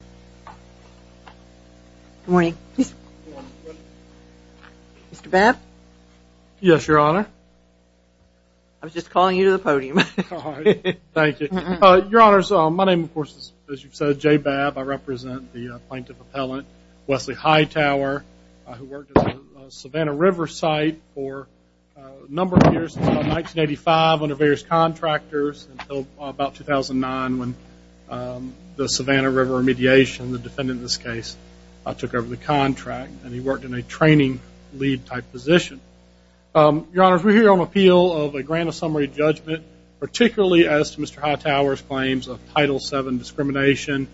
Good morning. Mr. Babb? Yes, Your Honor. I was just calling you to the podium. Thank you. Your Honor, my name, of course, as you've said, J. Babb. I represent the plaintiff appellant, Wesley Hightower, who worked at the Savannah River site for a number of years, since about 1985, under various contractors, until about 2009, when the Savannah River Remediation, the defendant in this case, took over the contract, and he worked in a training-lead type position. Your Honor, we're here on appeal of a grant of summary judgment, particularly as to Mr. Hightower's claims of Title VII discrimination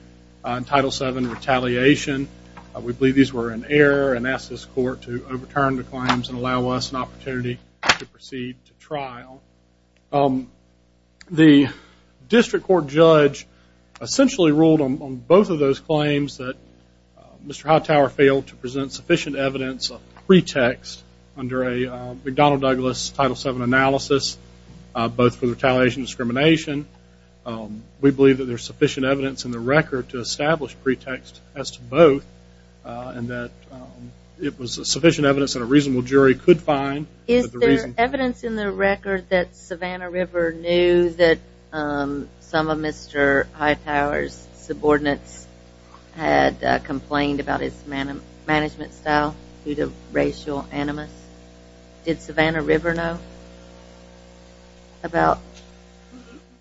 and Title VII retaliation. We believe these were in error and ask this court to overturn the claims and allow us an opportunity to proceed to trial. The district court judge essentially ruled on both of those claims that Mr. Hightower failed to present sufficient evidence of pretext under a McDonnell Douglas Title VII analysis, both for retaliation and discrimination. We believe that there's sufficient evidence in the record to establish pretext as to both, and that it was sufficient evidence that a reasonable jury could find. Is there evidence in the record that Savannah River knew that some of Mr. Hightower's subordinates had complained about his management style due to racial animus? Did Savannah River know about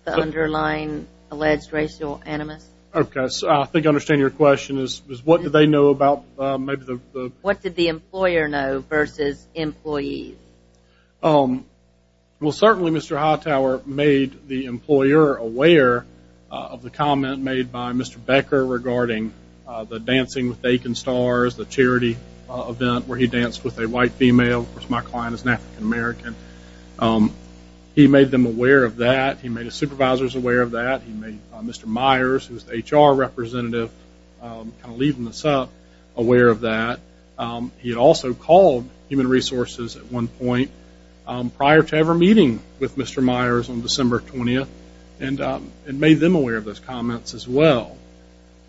the underlying alleged racial animus? Okay, so I think I understand your question is what did they know about maybe the... What did the employer know versus employees? Well, certainly Mr. Hightower made the employer aware of the comment made by Mr. Becker regarding the Dancing with the Aiken Stars, the charity event where he danced with a white female. Of course, my client is an African American. He made them aware of that. He made his supervisors aware of that. He made Mr. Myers, who's the HR representative, kind of leading this up, aware of that. He had also called Human Resources at one point prior to ever meeting with Mr. Myers on December 20th and made them aware of those comments as well.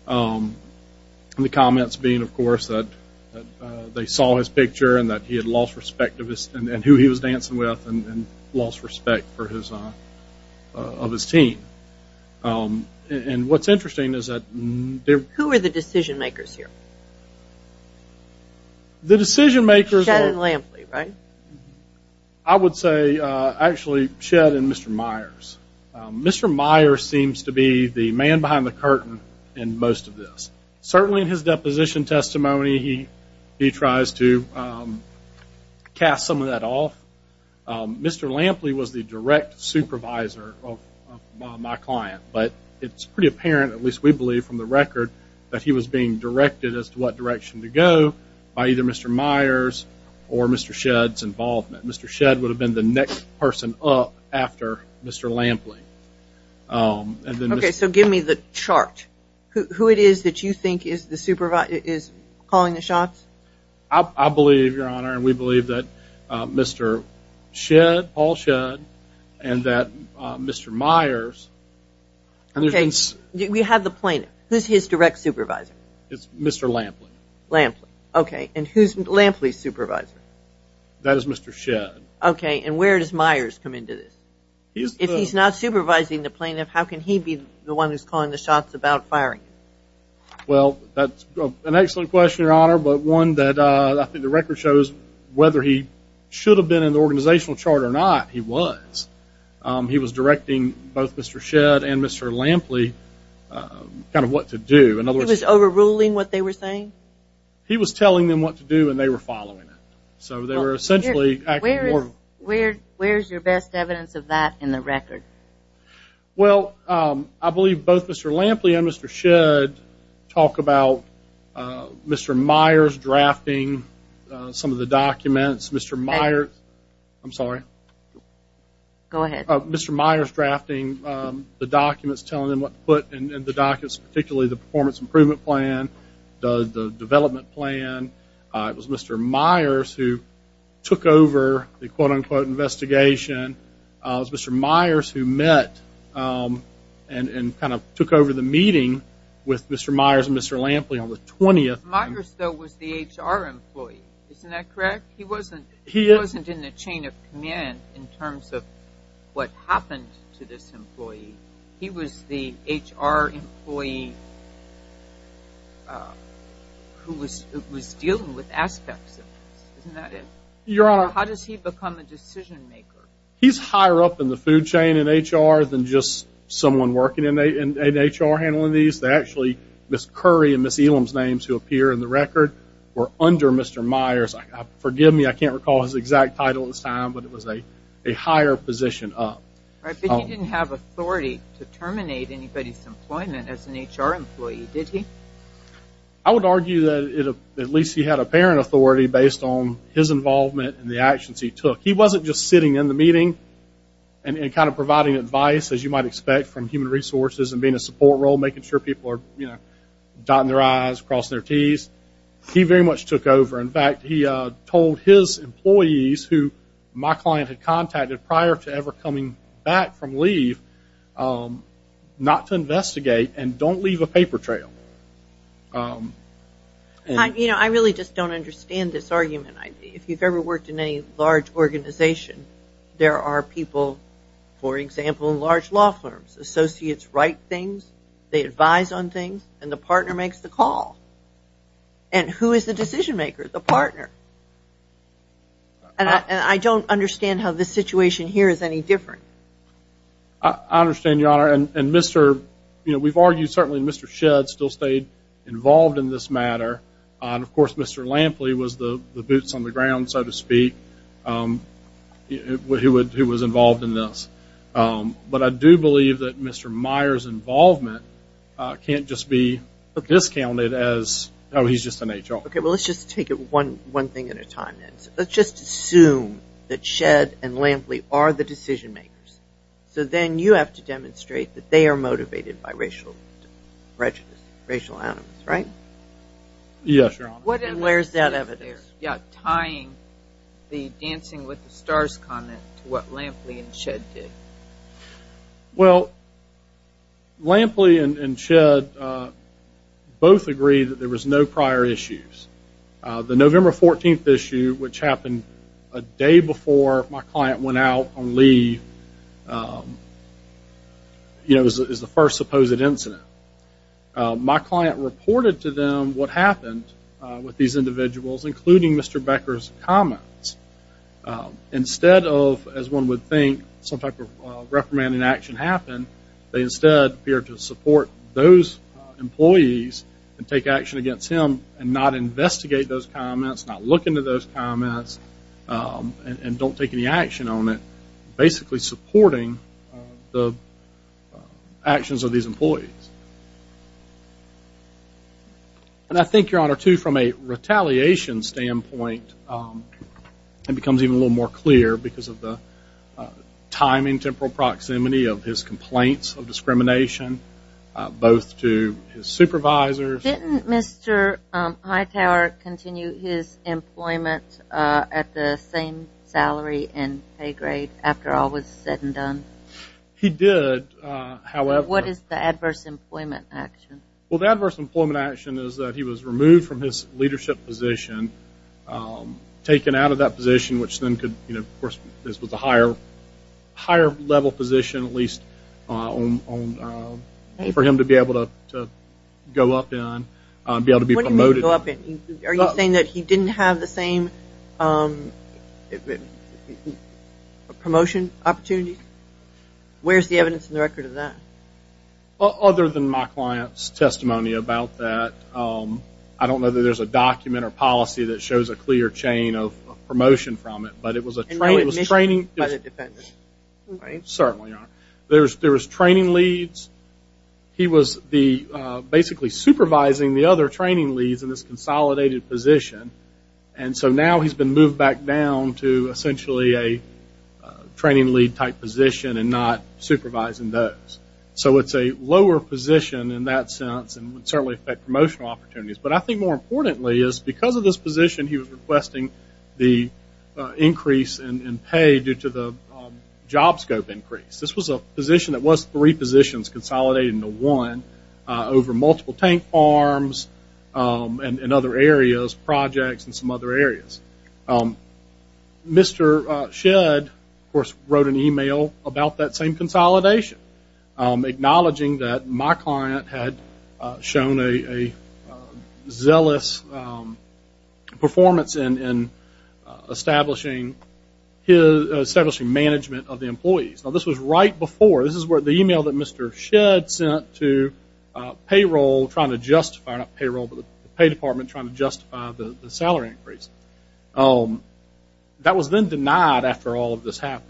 The comments being, of course, that they saw his picture and that he had lost respect of his... and who he was dancing with and lost respect for his...of his team. And what's interesting is that... Who were the decision makers here? The decision makers were... Shedd and Lampley, right? I would say, actually, Shedd and Mr. Myers. Mr. Myers seems to be the man behind the curtain in most of this. Certainly in his deposition testimony, he tries to cast some of that off. Mr. Lampley was the direct supervisor of my client, but it's pretty apparent, at least we believe from the record, that he was being directed as to what direction to go by either Mr. Myers or Mr. Shedd's involvement. Mr. Shedd would have been the next person up after Mr. Lampley. Okay, so give me the chart. Who it is that you think is calling the shots? I believe, Your Honor, and we believe that Mr. Shedd, Paul Shedd, and that Mr. Myers... Okay, we have the plaintiff. Who's his direct supervisor? It's Mr. Lampley. Lampley. Okay, and who's Lampley's supervisor? That is Mr. Shedd. Okay, and where does Myers come into this? If he's not supervising the plaintiff, how can he be the one who's calling the shots about firing? Well, that's an excellent question, Your Honor, but one that I think the record shows whether he should have been in the organizational chart or not, he was. He was directing both Mr. Shedd and Mr. Lampley kind of what to do. In other words... He was overruling what they were saying? He was telling them what to do, and they were following it. So they were essentially acting more... Where is your best evidence of that in the record? Well, I believe both Mr. Lampley and Mr. Shedd talk about Mr. Myers drafting some of the documents. Mr. Myers... I'm sorry. Go ahead. Mr. Myers drafting the documents, telling them what to put in the documents, particularly the performance improvement plan, the development plan. It was Mr. Myers who took over the quote-unquote investigation. It was Mr. Myers who met and kind of took over the meeting with Mr. Myers and Mr. Lampley on the 20th. Myers, though, was the HR employee. Isn't that correct? He wasn't in the chain of command in terms of what happened to this employee. He was the HR employee who was dealing with aspects of this. Isn't that it? Your Honor... How does he become a decision-maker? He's higher up in the food chain in HR than just someone working in HR handling these. Actually, Ms. Curry and Ms. Elam's names who appear in the record were under Mr. Myers. Forgive me, I can't recall his exact title at this time, but it was a higher position up. But he didn't have authority to terminate anybody's employment as an HR employee, did he? I would argue that at least he had apparent authority based on his involvement and the actions he took. He wasn't just sitting in the meeting and kind of providing advice, as you might expect, from human resources and being a support role, making sure people are dotting their I's, crossing their T's. He very much took over. In fact, he told his employees, who my client had contacted prior to ever coming back from leave, not to investigate and don't leave a paper trail. I really just don't understand this argument. If you've ever worked in any large organization, there are people, for example, in large law firms. Associates write things, they advise on things, and the partner makes the call. And who is the decision maker? The partner. And I don't understand how this situation here is any different. I understand, Your Honor. And, you know, we've argued certainly Mr. Shedd still stayed involved in this matter. And, of course, Mr. Lampley was the boots on the ground, so to speak, who was involved in this. But I do believe that Mr. Meyer's involvement can't just be discounted as, oh, he's just an HR. Okay. Well, let's just take it one thing at a time, then. Let's just assume that Shedd and Lampley are the decision makers. So then you have to demonstrate that they are motivated by racial animus, right? Yes, Your Honor. And where is that evidence? Yeah, tying the Dancing with the Stars comment to what Lampley and Shedd did. Well, Lampley and Shedd both agreed that there was no prior issues. The November 14th issue, which happened a day before my client went out on leave, you know, is the first supposed incident. My client reported to them what happened with these individuals, including Mr. Becker's comments. Instead of, as one would think, some type of reprimanding action happened, they instead appeared to support those employees and take action against him and not investigate those comments, not look into those comments, and don't take any action on it, basically supporting the actions of these employees. And I think, Your Honor, too, from a retaliation standpoint, it becomes even a little more clear because of the timing, temporal proximity of his complaints of discrimination, both to his supervisors. Didn't Mr. Hightower continue his employment at the same salary and pay grade after all was said and done? He did, however. What is the adverse employment action? Well, the adverse employment action is that he was removed from his leadership position, taken out of that position, which then could, you know, of course, this was a higher level position, at least for him to be able to go up in, be able to be promoted. What do you mean go up in? Are you saying that he didn't have the same promotion opportunities? Where's the evidence in the record of that? Other than my client's testimony about that, I don't know that there's a document or policy that shows a clear chain of promotion from it, but it was a training. Certainly, Your Honor. There was training leads. He was basically supervising the other training leads in this consolidated position, and so now he's been moved back down to essentially a training lead type position and not supervising those. So it's a lower position in that sense and would certainly affect promotional opportunities. But I think more importantly is because of this position, he was requesting the increase in pay due to the job scope increase. This was a position that was three positions consolidated into one over multiple tank farms and other areas, projects and some other areas. Mr. Shedd, of course, wrote an email about that same consolidation, acknowledging that my client had shown a zealous performance in establishing management of the employees. Now, this was right before. This is the email that Mr. Shedd sent to payroll trying to justify, not payroll, but the pay department trying to justify the salary increase. That was then denied after all of this happened,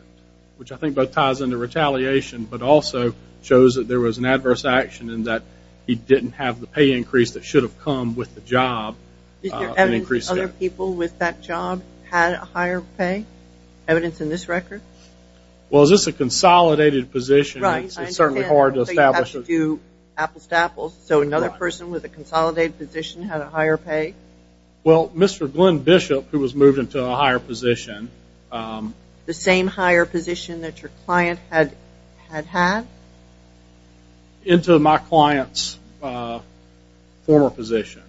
which I think both ties into retaliation, but also shows that there was an adverse action in that he didn't have the pay increase that should have come with the job. Did your evidence that other people with that job had a higher pay? Evidence in this record? Well, this is a consolidated position. Right. It's certainly hard to establish. You have to do apples to apples. So another person with a consolidated position had a higher pay? Well, Mr. Glenn Bishop, who was moved into a higher position. The same higher position that your client had had? Into my client's former position.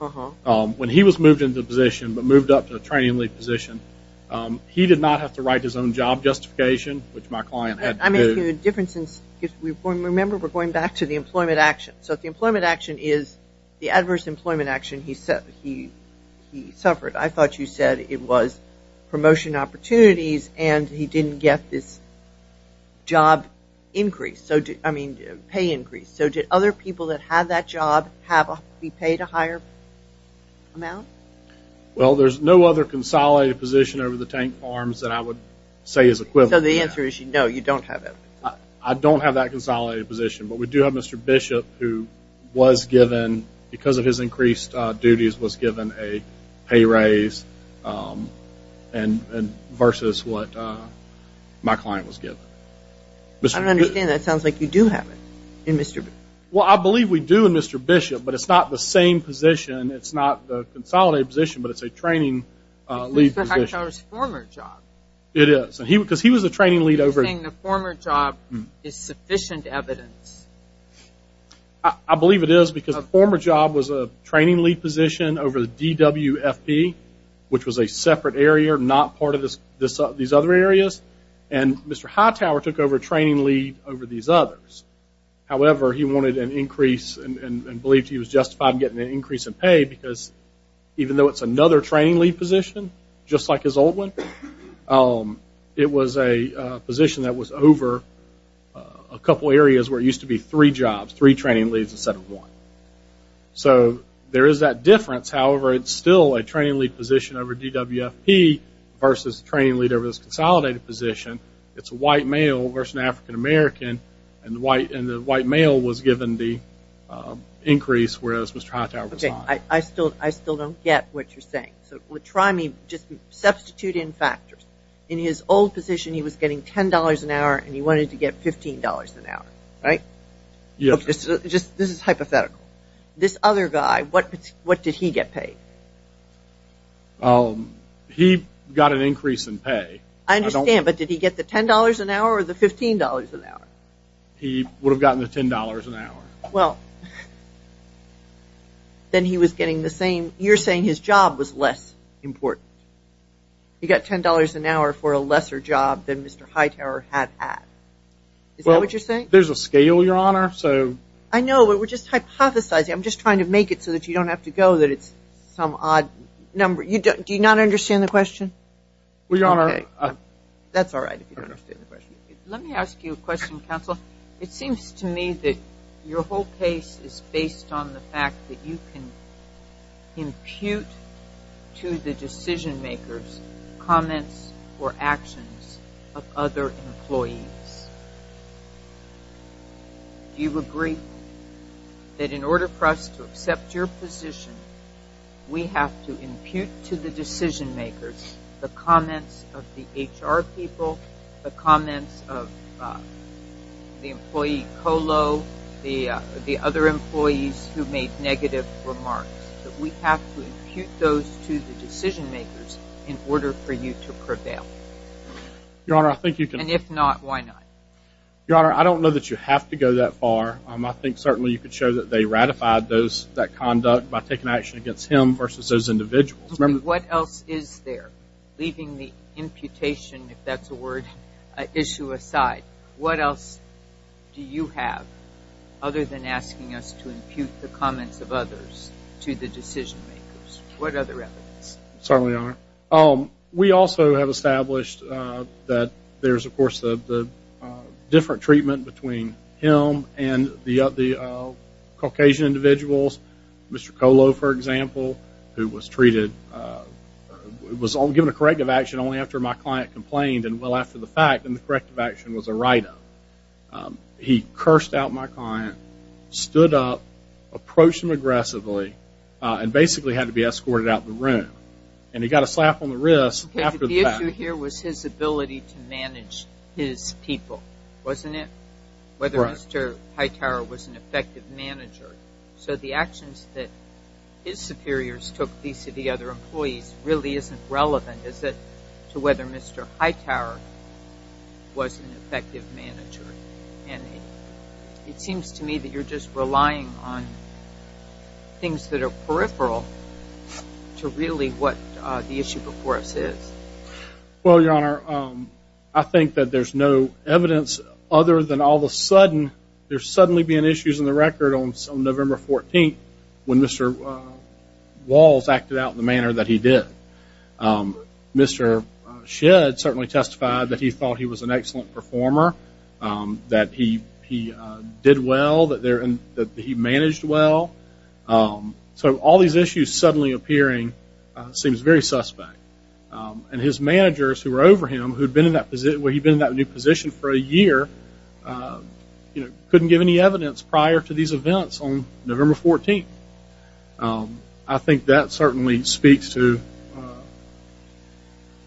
Uh-huh. When he was moved into a position, but moved up to a training lead position, he did not have to write his own job justification, which my client had to do. I'm asking the difference. Remember, we're going back to the employment action. So if the employment action is the adverse employment action he suffered, I thought you said it was promotion opportunities, and he didn't get this job increase. I mean, pay increase. So did other people that had that job be paid a higher amount? Well, there's no other consolidated position over the tank farms that I would say is equivalent. So the answer is no, you don't have that. I don't have that consolidated position. But we do have Mr. Bishop, who was given, because of his increased duties, was given a pay raise versus what my client was given. I don't understand that. It sounds like you do have it in Mr. Bishop. Well, I believe we do in Mr. Bishop, but it's not the same position. It's not the consolidated position, but it's a training lead position. It's Mr. Hector's former job. It is. Because he was a training lead over. You're saying the former job is sufficient evidence. I believe it is because the former job was a training lead position over the DWFP, which was a separate area, not part of these other areas, and Mr. Hightower took over training lead over these others. However, he wanted an increase and believed he was justified in getting an increase in pay because even though it's another training lead position, just like his old one, it was a position that was over a couple areas where it used to be three jobs, three training leads instead of one. So there is that difference. However, it's still a training lead position over DWFP versus a training lead over this consolidated position. It's a white male versus an African American, and the white male was given the increase, whereas Mr. Hightower was not. Okay, I still don't get what you're saying. So try me, just substitute in factors. In his old position, he was getting $10 an hour and he wanted to get $15 an hour, right? This is hypothetical. This other guy, what did he get paid? He got an increase in pay. I understand, but did he get the $10 an hour or the $15 an hour? He would have gotten the $10 an hour. Well, then he was getting the same. You're saying his job was less important. He got $10 an hour for a lesser job than Mr. Hightower had at. Is that what you're saying? There's a scale, Your Honor, so. I know, but we're just hypothesizing. I'm just trying to make it so that you don't have to go that it's some odd number. Do you not understand the question? Well, Your Honor. That's all right if you don't understand the question. Let me ask you a question, counsel. It seems to me that your whole case is based on the fact that you can impute to the decision-makers comments or actions of other employees. Do you agree that in order for us to accept your position, we have to impute to the decision-makers the comments of the HR people, the comments of the employee COLO, the other employees who made negative remarks, that we have to impute those to the decision-makers in order for you to prevail? Your Honor, I think you can. And if not, why not? Your Honor, I don't know that you have to go that far. I think certainly you could show that they ratified that conduct by taking action against him versus those individuals. What else is there? Leaving the imputation, if that's a word, issue aside, what else do you have other than asking us to impute the comments of others to the decision-makers? What other evidence? Certainly, Your Honor. We also have established that there's, of course, the different treatment between him and the Caucasian individuals, Mr. COLO, for example, who was treated, was given a corrective action only after my client complained, and well after the fact, and the corrective action was a write-up. He cursed out my client, stood up, approached him aggressively, and basically had to be escorted out of the room. And he got a slap on the wrist after the fact. The issue here was his ability to manage his people, wasn't it? Whether Mr. Hightower was an effective manager. So the actions that his superiors took vis-à-vis other employees really isn't relevant, is it, to whether Mr. Hightower was an effective manager? And it seems to me that you're just relying on things that are peripheral to really what the issue before us is. Well, Your Honor, I think that there's no evidence other than all of a sudden, there's suddenly been issues in the record on November 14th when Mr. Walls acted out in the manner that he did. Mr. Shedd certainly testified that he thought he was an excellent performer, that he did well, that he managed well. So all these issues suddenly appearing seems very suspect. And his managers who were over him, who'd been in that new position for a year, couldn't give any evidence prior to these events on November 14th. I think that certainly speaks to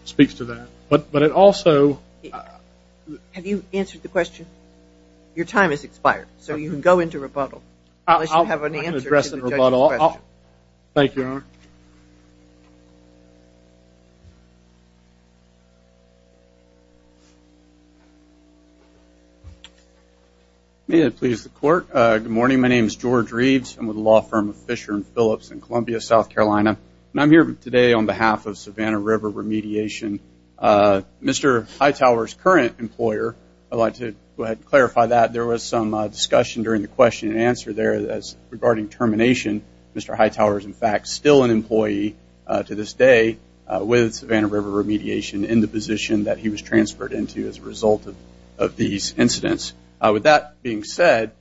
that. But it also... Have you answered the question? Your time has expired, so you can go into rebuttal. Unless you have an answer to the judge's question. Thank you, Your Honor. May it please the Court. Good morning. My name is George Reeves. I'm with the law firm of Fisher & Phillips in Columbia, South Carolina. And I'm here today on behalf of Savannah River Remediation. Mr. Hightower's current employer, I'd like to go ahead and clarify that. There was some discussion during the question and answer there regarding termination. Mr. Hightower is, in fact, still an employee to this day with Savannah River Remediation in the position that he was transferred into as a result of these incidents. With that being said,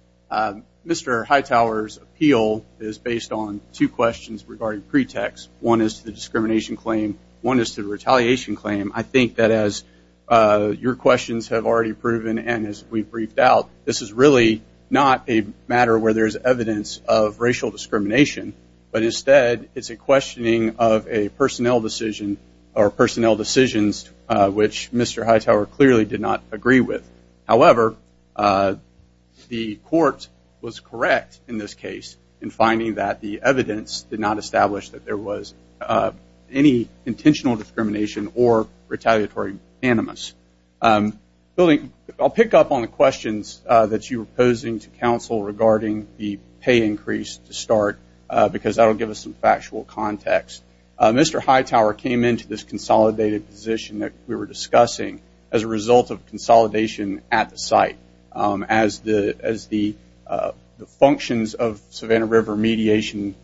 Mr. Hightower's appeal is based on two questions regarding pretext. One is the discrimination claim. One is the retaliation claim. I think that as your questions have already proven and as we've briefed out, this is really not a matter where there's evidence of racial discrimination, but instead it's a questioning of a personnel decision or personnel decisions, which Mr. Hightower clearly did not agree with. However, the court was correct in this case in finding that the evidence did not establish that there was any intentional discrimination or retaliatory animus. I'll pick up on the questions that you were posing to counsel regarding the pay increase to start because that will give us some factual context. Mr. Hightower came into this consolidated position that we were discussing as a result of consolidation at the site. As the functions of Savannah River Mediation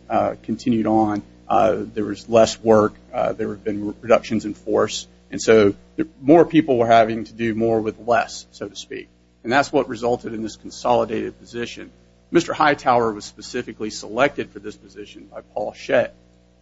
continued on, there was less work. There had been reductions in force. And so more people were having to do more with less, so to speak. And that's what resulted in this consolidated position. Mr. Hightower was specifically selected for this position by Paul Shett.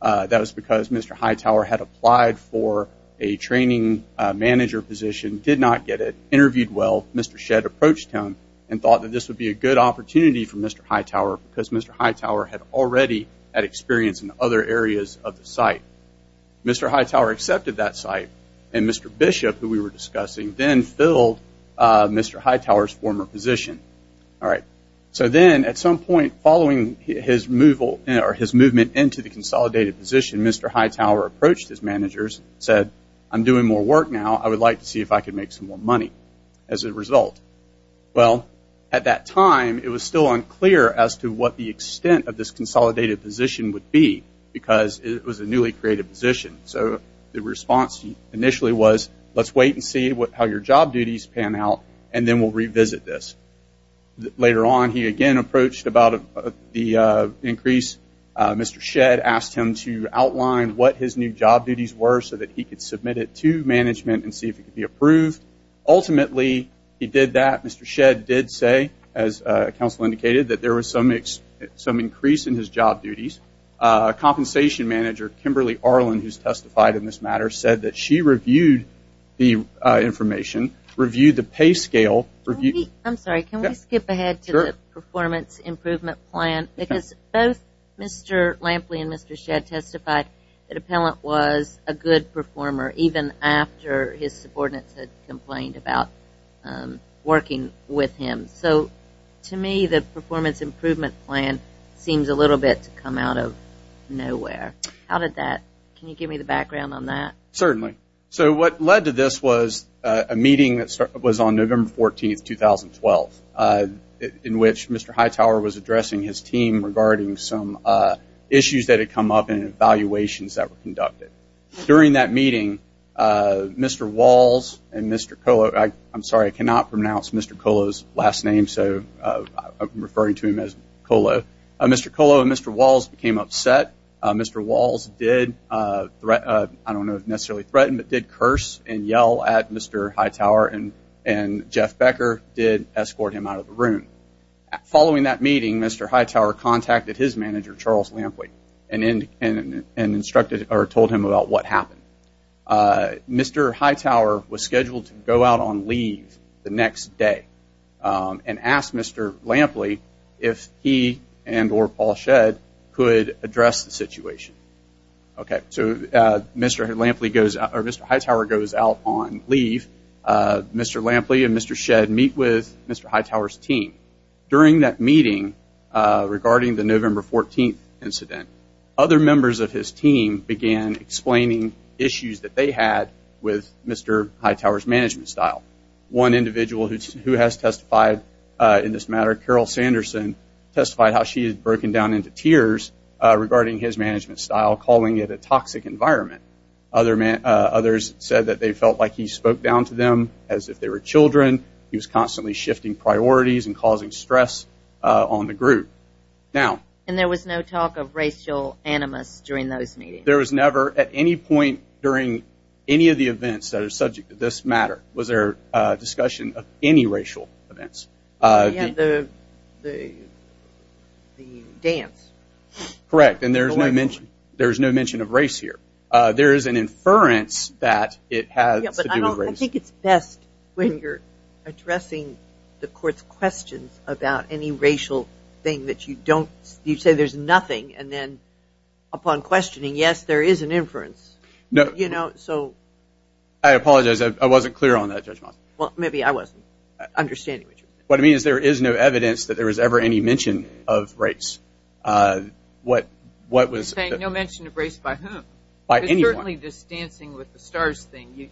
That was because Mr. Hightower had applied for a training manager position, did not get it, interviewed well. Mr. Shett approached him and thought that this would be a good opportunity for Mr. Hightower because Mr. Hightower had already had experience in other areas of the site. Mr. Hightower accepted that site, and Mr. Bishop, who we were discussing, then filled Mr. Hightower's former position. So then at some point following his movement into the consolidated position, Mr. Hightower approached his managers and said, I'm doing more work now. I would like to see if I could make some more money as a result. Well, at that time, it was still unclear as to what the extent of this consolidated position would be because it was a newly created position. So the response initially was, let's wait and see how your job duties pan out, and then we'll revisit this. Later on, he again approached about the increase. Mr. Shett asked him to outline what his new job duties were so that he could submit it to management and see if it could be approved. Ultimately, he did that. Mr. Shett did say, as counsel indicated, that there was some increase in his job duties. Compensation manager Kimberly Arlen, who's testified in this matter, said that she reviewed the information, reviewed the pay scale. I'm sorry, can we skip ahead to the performance improvement plan? Because both Mr. Lampley and Mr. Shett testified that Appellant was a good performer, even after his subordinates had complained about working with him. So to me, the performance improvement plan seems a little bit to come out of nowhere. How did that – can you give me the background on that? Certainly. So what led to this was a meeting that was on November 14, 2012, in which Mr. Hightower was addressing his team regarding some issues that had come up and evaluations that were conducted. During that meeting, Mr. Walls and Mr. Kolo – I'm sorry, I cannot pronounce Mr. Kolo's last name, so I'm referring to him as Kolo. Mr. Kolo and Mr. Walls became upset. Mr. Walls did – I don't know if necessarily threaten, but did curse and yell at Mr. Hightower, and Jeff Becker did escort him out of the room. Following that meeting, Mr. Hightower contacted his manager, Charles Lampley, and instructed – or told him about what happened. Mr. Hightower was scheduled to go out on leave the next day and asked Mr. Lampley if he and or Paul Shett could address the situation. Okay, so Mr. Lampley goes – or Mr. Hightower goes out on leave. Mr. Lampley and Mr. Shett meet with Mr. Hightower's team. During that meeting regarding the November 14 incident, other members of his team began explaining issues that they had with Mr. Hightower's management style. One individual who has testified in this matter, Carol Sanderson, testified how she had broken down into tears regarding his management style, calling it a toxic environment. Others said that they felt like he spoke down to them as if they were children. He was constantly shifting priorities and causing stress on the group. Now – And there was no talk of racial animus during those meetings? There was never at any point during any of the events that are subject to this matter was there a discussion of any racial events. Yeah, the dance. Correct, and there's no mention of race here. There is an inference that it has to do with race. Yeah, but I think it's best when you're addressing the court's questions about any racial thing that you don't – you say there's nothing, and then upon questioning, yes, there is an inference. No. You know, so – I apologize. I wasn't clear on that, Judge Moss. Well, maybe I wasn't understanding what you meant. What I mean is there is no evidence that there was ever any mention of race. What was – You're saying no mention of race by whom? By anyone. It's certainly this dancing with the stars thing.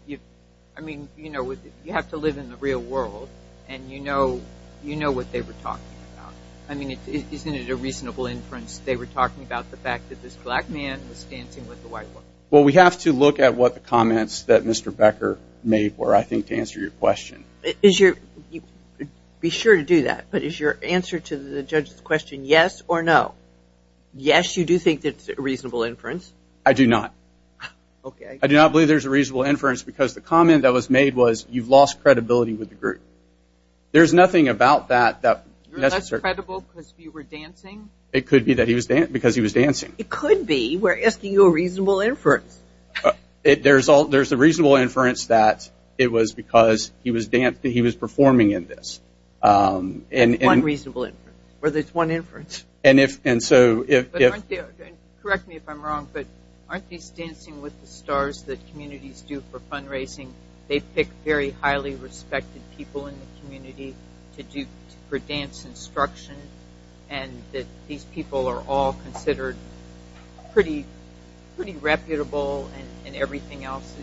I mean, you know, you have to live in the real world, and you know what they were talking about. I mean, isn't it a reasonable inference they were talking about the fact that this black man was dancing with the white woman? Well, we have to look at what the comments that Mr. Becker made were, I think, to answer your question. Be sure to do that. But is your answer to the judge's question yes or no? Yes, you do think it's a reasonable inference. I do not. Okay. I do not believe there's a reasonable inference because the comment that was made was you've lost credibility with the group. There's nothing about that that necessarily – You're less credible because you were dancing? It could be that he was – because he was dancing. It could be. We're asking you a reasonable inference. There's a reasonable inference that it was because he was performing in this. One reasonable inference. Or there's one inference. And so if – Correct me if I'm wrong, but aren't these dancing with the stars that communities do for fundraising? They pick very highly respected people in the community for dance instruction, and that these people are all considered pretty reputable and everything else.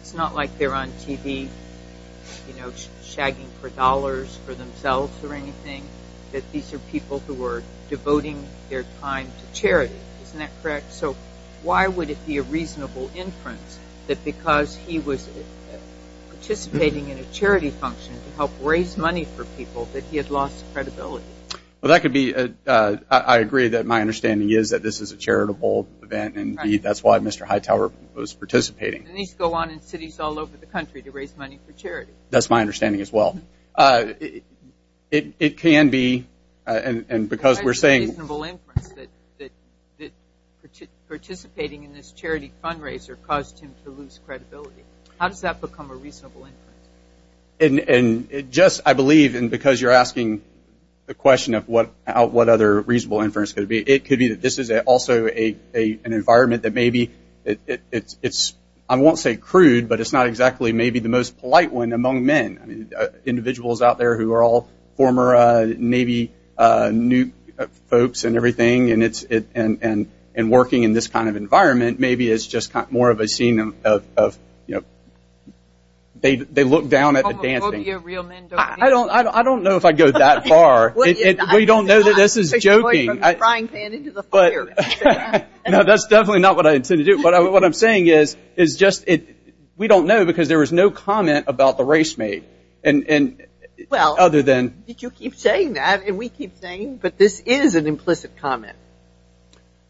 It's not like they're on TV, you know, shagging for dollars for themselves or anything, that these are people who are devoting their time to charity. Isn't that correct? So why would it be a reasonable inference that because he was participating in a Well, that could be – I agree that my understanding is that this is a charitable event, and that's why Mr. Hightower was participating. And these go on in cities all over the country to raise money for charity. That's my understanding as well. It can be – and because we're saying – Why is it a reasonable inference that participating in this charity fundraiser caused him to lose credibility? How does that become a reasonable inference? And it just – I believe, and because you're asking the question of what other reasonable inference could be, it could be that this is also an environment that maybe it's – I won't say crude, but it's not exactly maybe the most polite one among men. Individuals out there who are all former Navy nuke folks and everything, and working in this kind of environment maybe is just more of a scene of, you know, they look down at the dancing. Homophobia, real men don't dance. I don't know if I'd go that far. We don't know that this is joking. Frying pan into the fire. No, that's definitely not what I intend to do. But what I'm saying is just we don't know because there was no comment about the race made. And other than – Well, you keep saying that, and we keep saying, but this is an implicit comment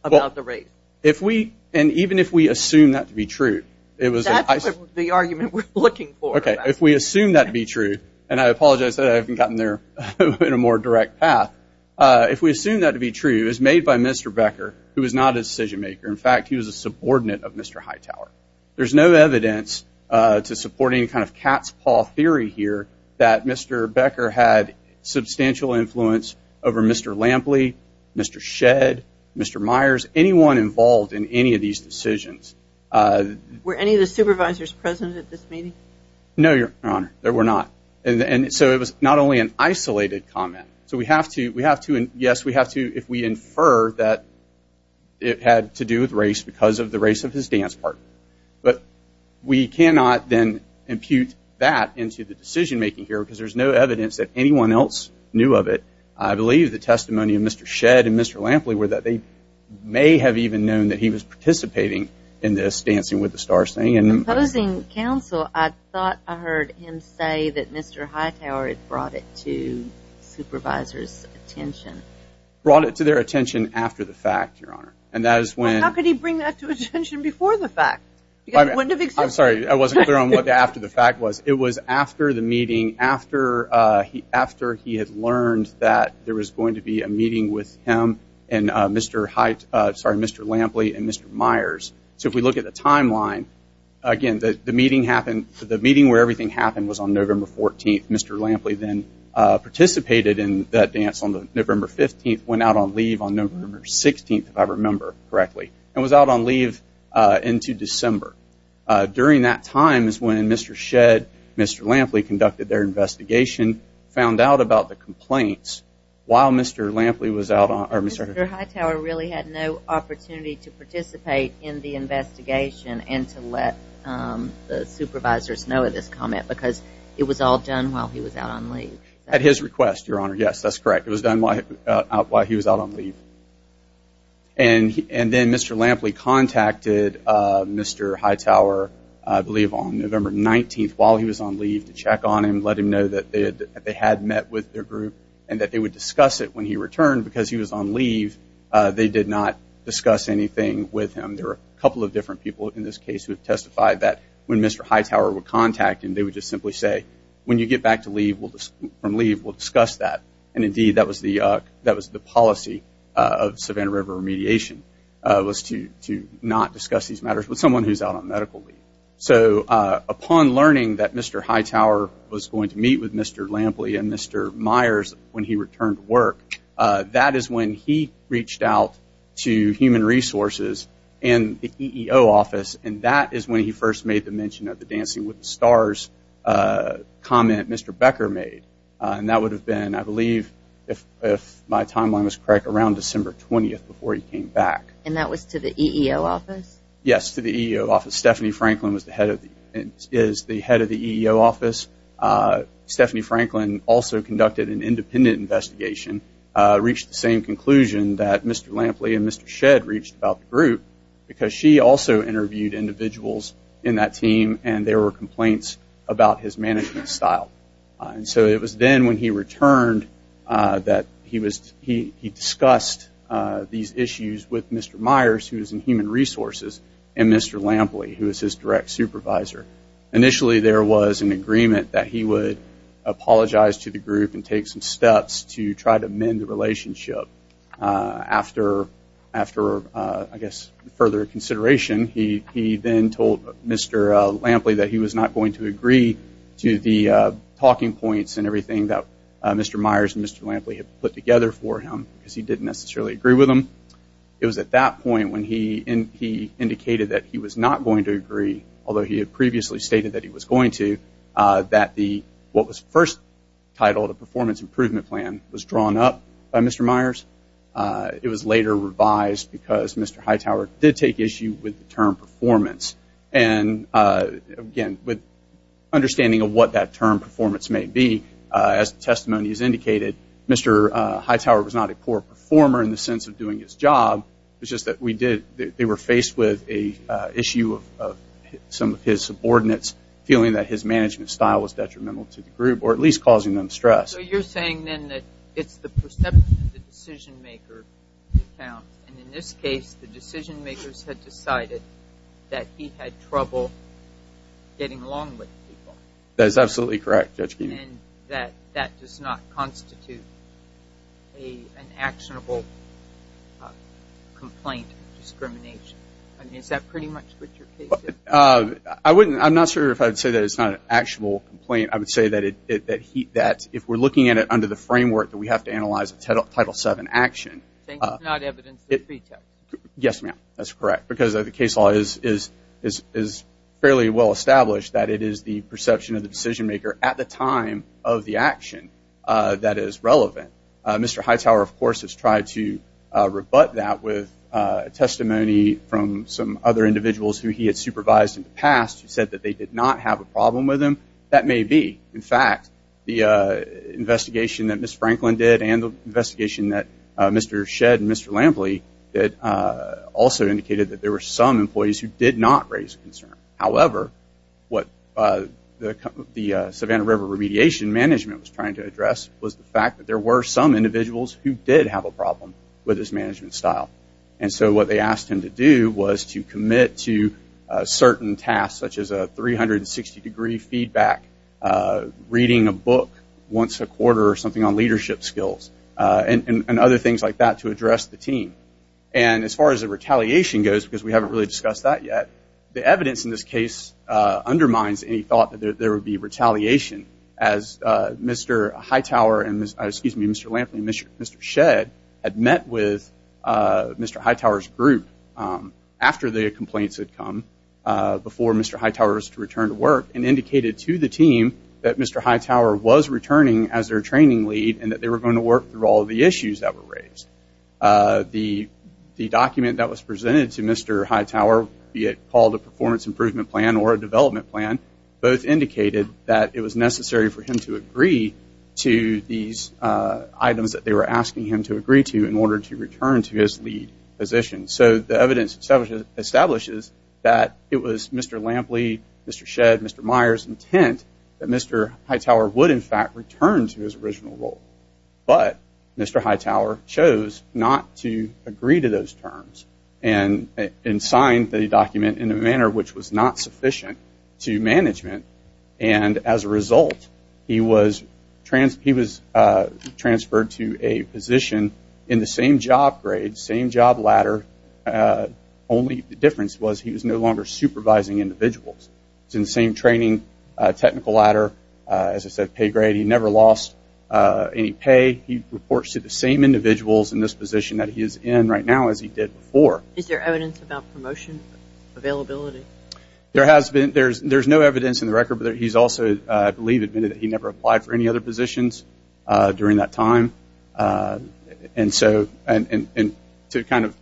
about the race. If we – and even if we assume that to be true. That's the argument we're looking for. Okay, if we assume that to be true, and I apologize that I haven't gotten there in a more direct path. If we assume that to be true, it was made by Mr. Becker, who was not a decision maker. In fact, he was a subordinate of Mr. Hightower. There's no evidence to support any kind of cat's paw theory here that Mr. Becker had substantial influence over Mr. Lampley, Mr. Shedd, Mr. Myers, anyone involved in any of these decisions. Were any of the supervisors present at this meeting? No, Your Honor, there were not. And so it was not only an isolated comment. So we have to – yes, we have to if we infer that it had to do with race because of the race of his dance partner. But we cannot then impute that into the decision making here because there's no evidence that anyone else knew of it. I believe the testimony of Mr. Shedd and Mr. Lampley were that they may have even known that he was participating in this Dancing with the Stars thing. Opposing counsel, I thought I heard him say that Mr. Hightower had brought it to supervisors' attention. Brought it to their attention after the fact, Your Honor. And that is when – Well, how could he bring that to attention before the fact? I'm sorry, I wasn't clear on what the after the fact was. It was after the meeting, after he had learned that there was going to be a meeting with him and Mr. Lampley and Mr. Myers. So if we look at the timeline, again, the meeting where everything happened was on November 14th. Mr. Lampley then participated in that dance on November 15th, went out on leave on November 16th, if I remember correctly, and was out on leave into December. During that time is when Mr. Shedd, Mr. Lampley conducted their investigation, found out about the complaints while Mr. Lampley was out on – Mr. Hightower really had no opportunity to participate in the investigation and to let the supervisors know of this comment because it was all done while he was out on leave. At his request, Your Honor, yes, that's correct. It was done while he was out on leave. And then Mr. Lampley contacted Mr. Hightower, I believe on November 19th, while he was on leave to check on him, let him know that they had met with their group and that they would discuss it when he returned because he was on leave. They did not discuss anything with him. There were a couple of different people in this case who have testified that when Mr. Hightower would contact him, they would just simply say, when you get back from leave, we'll discuss that. And, indeed, that was the policy of Savannah River Remediation, was to not discuss these matters with someone who's out on medical leave. So upon learning that Mr. Hightower was going to meet with Mr. Lampley and Mr. Myers when he returned to work, that is when he reached out to Human Resources and the EEO office, and that is when he first made the mention of the Dancing with the Stars comment Mr. Becker made. And that would have been, I believe, if my timeline was correct, around December 20th before he came back. And that was to the EEO office? Yes, to the EEO office. Stephanie Franklin is the head of the EEO office. Stephanie Franklin also conducted an independent investigation, reached the same conclusion that Mr. Lampley and Mr. Shedd reached about the group because she also interviewed individuals in that team and there were complaints about his management style. And so it was then when he returned that he discussed these issues with Mr. Myers, who was in Human Resources, and Mr. Lampley, who was his direct supervisor. Initially, there was an agreement that he would apologize to the group and take some steps to try to mend the relationship. After, I guess, further consideration, he then told Mr. Lampley that he was not going to agree to the talking points and everything that Mr. Myers and Mr. Lampley had put together for him because he didn't necessarily agree with them. It was at that point when he indicated that he was not going to agree, although he had previously stated that he was going to, that what was first titled a performance improvement plan was drawn up by Mr. Myers. It was later revised because Mr. Hightower did take issue with the term performance. And again, with understanding of what that term performance may be, as the testimony has indicated, Mr. Hightower was not a poor performer in the sense of doing his job. It's just that they were faced with an issue of some of his subordinates feeling that his management style was detrimental to the group or at least causing them stress. So you're saying then that it's the perception of the decision-maker that counts. And in this case, the decision-makers had decided that he had trouble getting along with people. That is absolutely correct, Judge Geen. And that that does not constitute an actionable complaint discrimination. I mean, is that pretty much what your case is? I'm not sure if I would say that it's not an actionable complaint. I would say that if we're looking at it under the framework that we have to analyze a Title VII action. It's not evidence of pretext. Yes, ma'am. That's correct. Because the case law is fairly well established that it is the perception of the decision-maker at the time of the action that is relevant. Mr. Hightower, of course, has tried to rebut that with testimony from some other individuals who he had supervised in the past who said that they did not have a problem with him. That may be. In fact, the investigation that Ms. Franklin did and the investigation that Mr. Shedd and Mr. Lampley did also indicated that there were some employees who did not raise a concern. However, what the Savannah River Remediation Management was trying to address was the fact that there were some individuals who did have a problem with his management style. What they asked him to do was to commit to certain tasks, such as a 360-degree feedback, reading a book once a quarter or something on leadership skills, and other things like that to address the team. As far as the retaliation goes, because we haven't really discussed that yet, the evidence in this case undermines any thought that there would be retaliation. Mr. Lampley and Mr. Shedd had met with Mr. Hightower's group after the complaints had come before Mr. Hightower's return to work and indicated to the team that Mr. Hightower was returning as their training lead and that they were going to work through all of the issues that were raised. The document that was presented to Mr. Hightower, be it called a performance improvement plan or a development plan, both indicated that it was necessary for him to agree to these items that they were asking him to agree to in order to return to his lead position. So the evidence establishes that it was Mr. Lampley, Mr. Shedd, Mr. Myers' intent that Mr. Hightower would, in fact, return to his original role, but Mr. Hightower chose not to agree to those terms and signed the document in a manner which was not sufficient to management. And as a result, he was transferred to a position in the same job grade, same job ladder, only the difference was he was no longer supervising individuals. He was in the same training technical ladder, as I said, pay grade. He never lost any pay. He reports to the same individuals in this position that he is in right now as he did before. Is there evidence about promotion availability? There has been. There's no evidence in the record, but he's also, I believe, admitted that he never applied for any other positions during that time. And so to kind of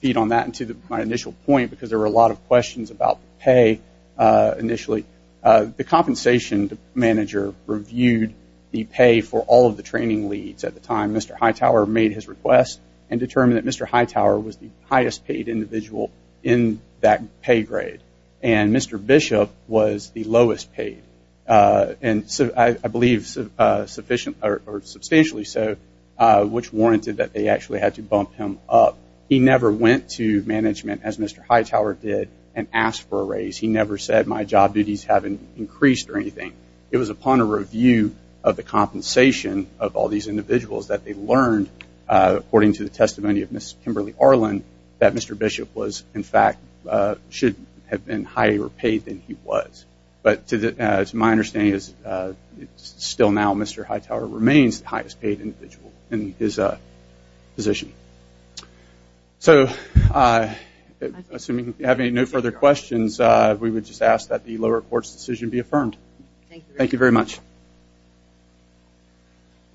feed on that and to my initial point, because there were a lot of questions about pay initially, the compensation manager reviewed the pay for all of the training leads at the time Mr. Hightower made his request and determined that Mr. Hightower was the highest paid individual in that pay grade and Mr. Bishop was the lowest paid, and I believe substantially so, which warranted that they actually had to bump him up. He never went to management, as Mr. Hightower did, and asked for a raise. He never said my job duties haven't increased or anything. It was upon a review of the compensation of all these individuals that they learned, according to the testimony of Ms. Kimberly Arland, that Mr. Bishop was, in fact, should have been higher paid than he was. But to my understanding, still now, Mr. Hightower remains the highest paid individual in his position. So assuming you have no further questions, we would just ask that the lower court's decision be affirmed. Thank you very much.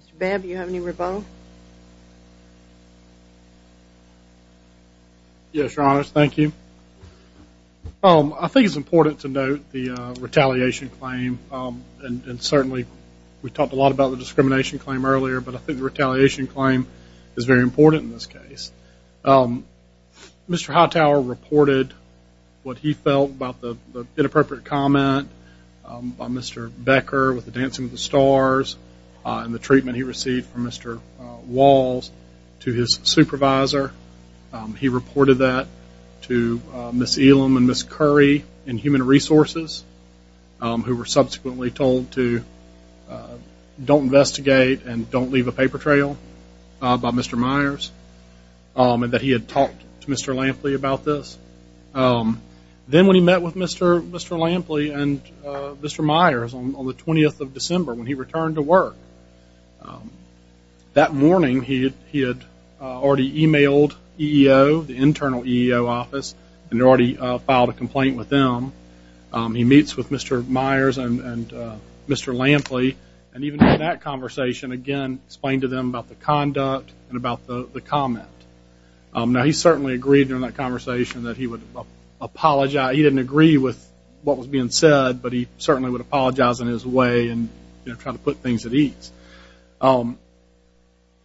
Mr. Babb, do you have any rebuttal? Yes, Your Honor, thank you. I think it's important to note the retaliation claim, and certainly we talked a lot about the discrimination claim earlier, but I think the retaliation claim is very important in this case. Mr. Hightower reported what he felt about the inappropriate comment by Mr. Becker with the Dancing with the Stars and the treatment he received from Mr. Walls to his supervisor. He reported that to Ms. Elam and Ms. Curry in Human Resources, who were subsequently told to don't investigate and don't leave a paper trail by Mr. Myers, and that he had talked to Mr. Lampley about this. Then when he met with Mr. Lampley and Mr. Myers on the 20th of December, when he returned to work, that morning he had already emailed EEO, the internal EEO office, and already filed a complaint with them. He meets with Mr. Myers and Mr. Lampley, and even in that conversation, again, explained to them about the conduct and about the comment. Now, he certainly agreed in that conversation that he would apologize. He didn't agree with what was being said, but he certainly would apologize in his way and try to put things at ease.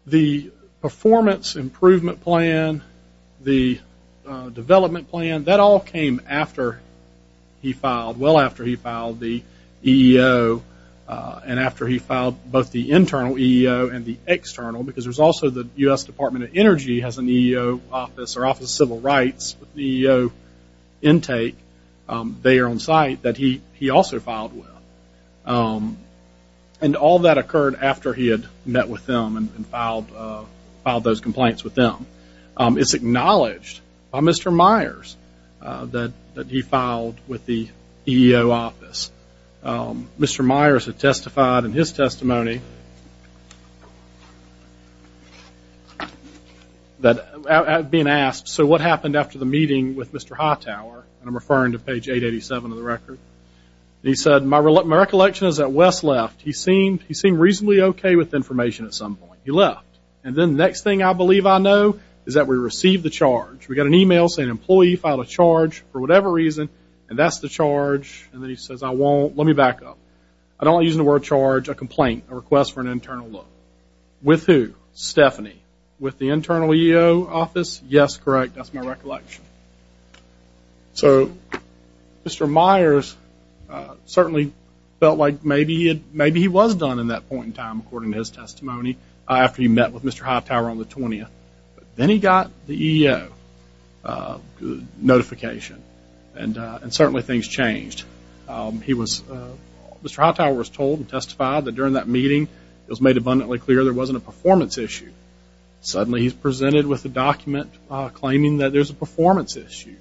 The performance improvement plan, the development plan, that all came after he filed, well after he filed the EEO, and after he filed both the internal EEO and the external, because there's also the U.S. Department of Energy has an EEO office, or Office of Civil Rights, with the EEO intake there on site that he also filed with. And all that occurred after he had met with them and filed those complaints with them. It's acknowledged by Mr. Myers that he filed with the EEO office. Mr. Myers had testified in his testimony, being asked, so what happened after the meeting with Mr. Hightower, and I'm referring to page 887 of the record, and he said, my recollection is that Wes left. He seemed reasonably okay with information at some point. He left. And then the next thing I believe I know is that we received the charge. We got an email saying an employee filed a charge for whatever reason, and that's the charge, and then he says, I won't. Let me back up. I don't want to use the word charge. A complaint, a request for an internal look. With who? Stephanie. With the internal EEO office? Yes, correct. That's my recollection. So Mr. Myers certainly felt like maybe he was done in that point in time, according to his testimony, after he met with Mr. Hightower on the 20th. Then he got the EEO notification, and certainly things changed. Mr. Hightower was told and testified that during that meeting it was made abundantly clear there wasn't a performance issue. Suddenly he's presented with a document claiming that there's a performance issue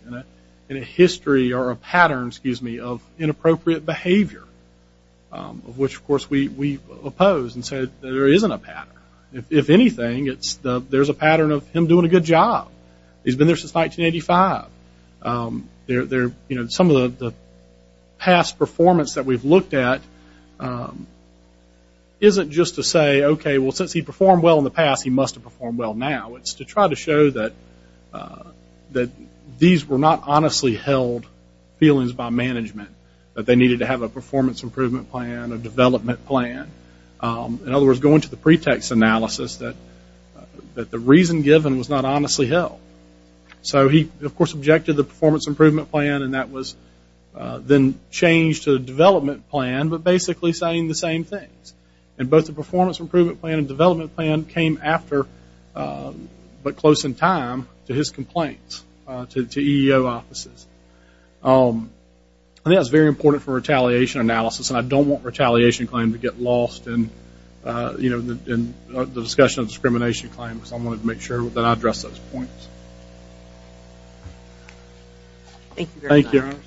and a history or a pattern, excuse me, of inappropriate behavior, of which, of course, we oppose and say there isn't a pattern. If anything, there's a pattern of him doing a good job. He's been there since 1985. Some of the past performance that we've looked at isn't just to say, okay, well, since he performed well in the past, he must have performed well now. It's to try to show that these were not honestly held feelings by management, that they needed to have a performance improvement plan, a development plan. In other words, going to the pretext analysis that the reason given was not honestly held. So he, of course, objected to the performance improvement plan, and that was then changed to a development plan, but basically saying the same things. And both the performance improvement plan and development plan came after, but close in time to his complaints to EEO offices. I think that was very important for retaliation analysis, and I don't want retaliation claim to get lost in the discussion of discrimination claims. I wanted to make sure that I addressed those points. Thank you very much.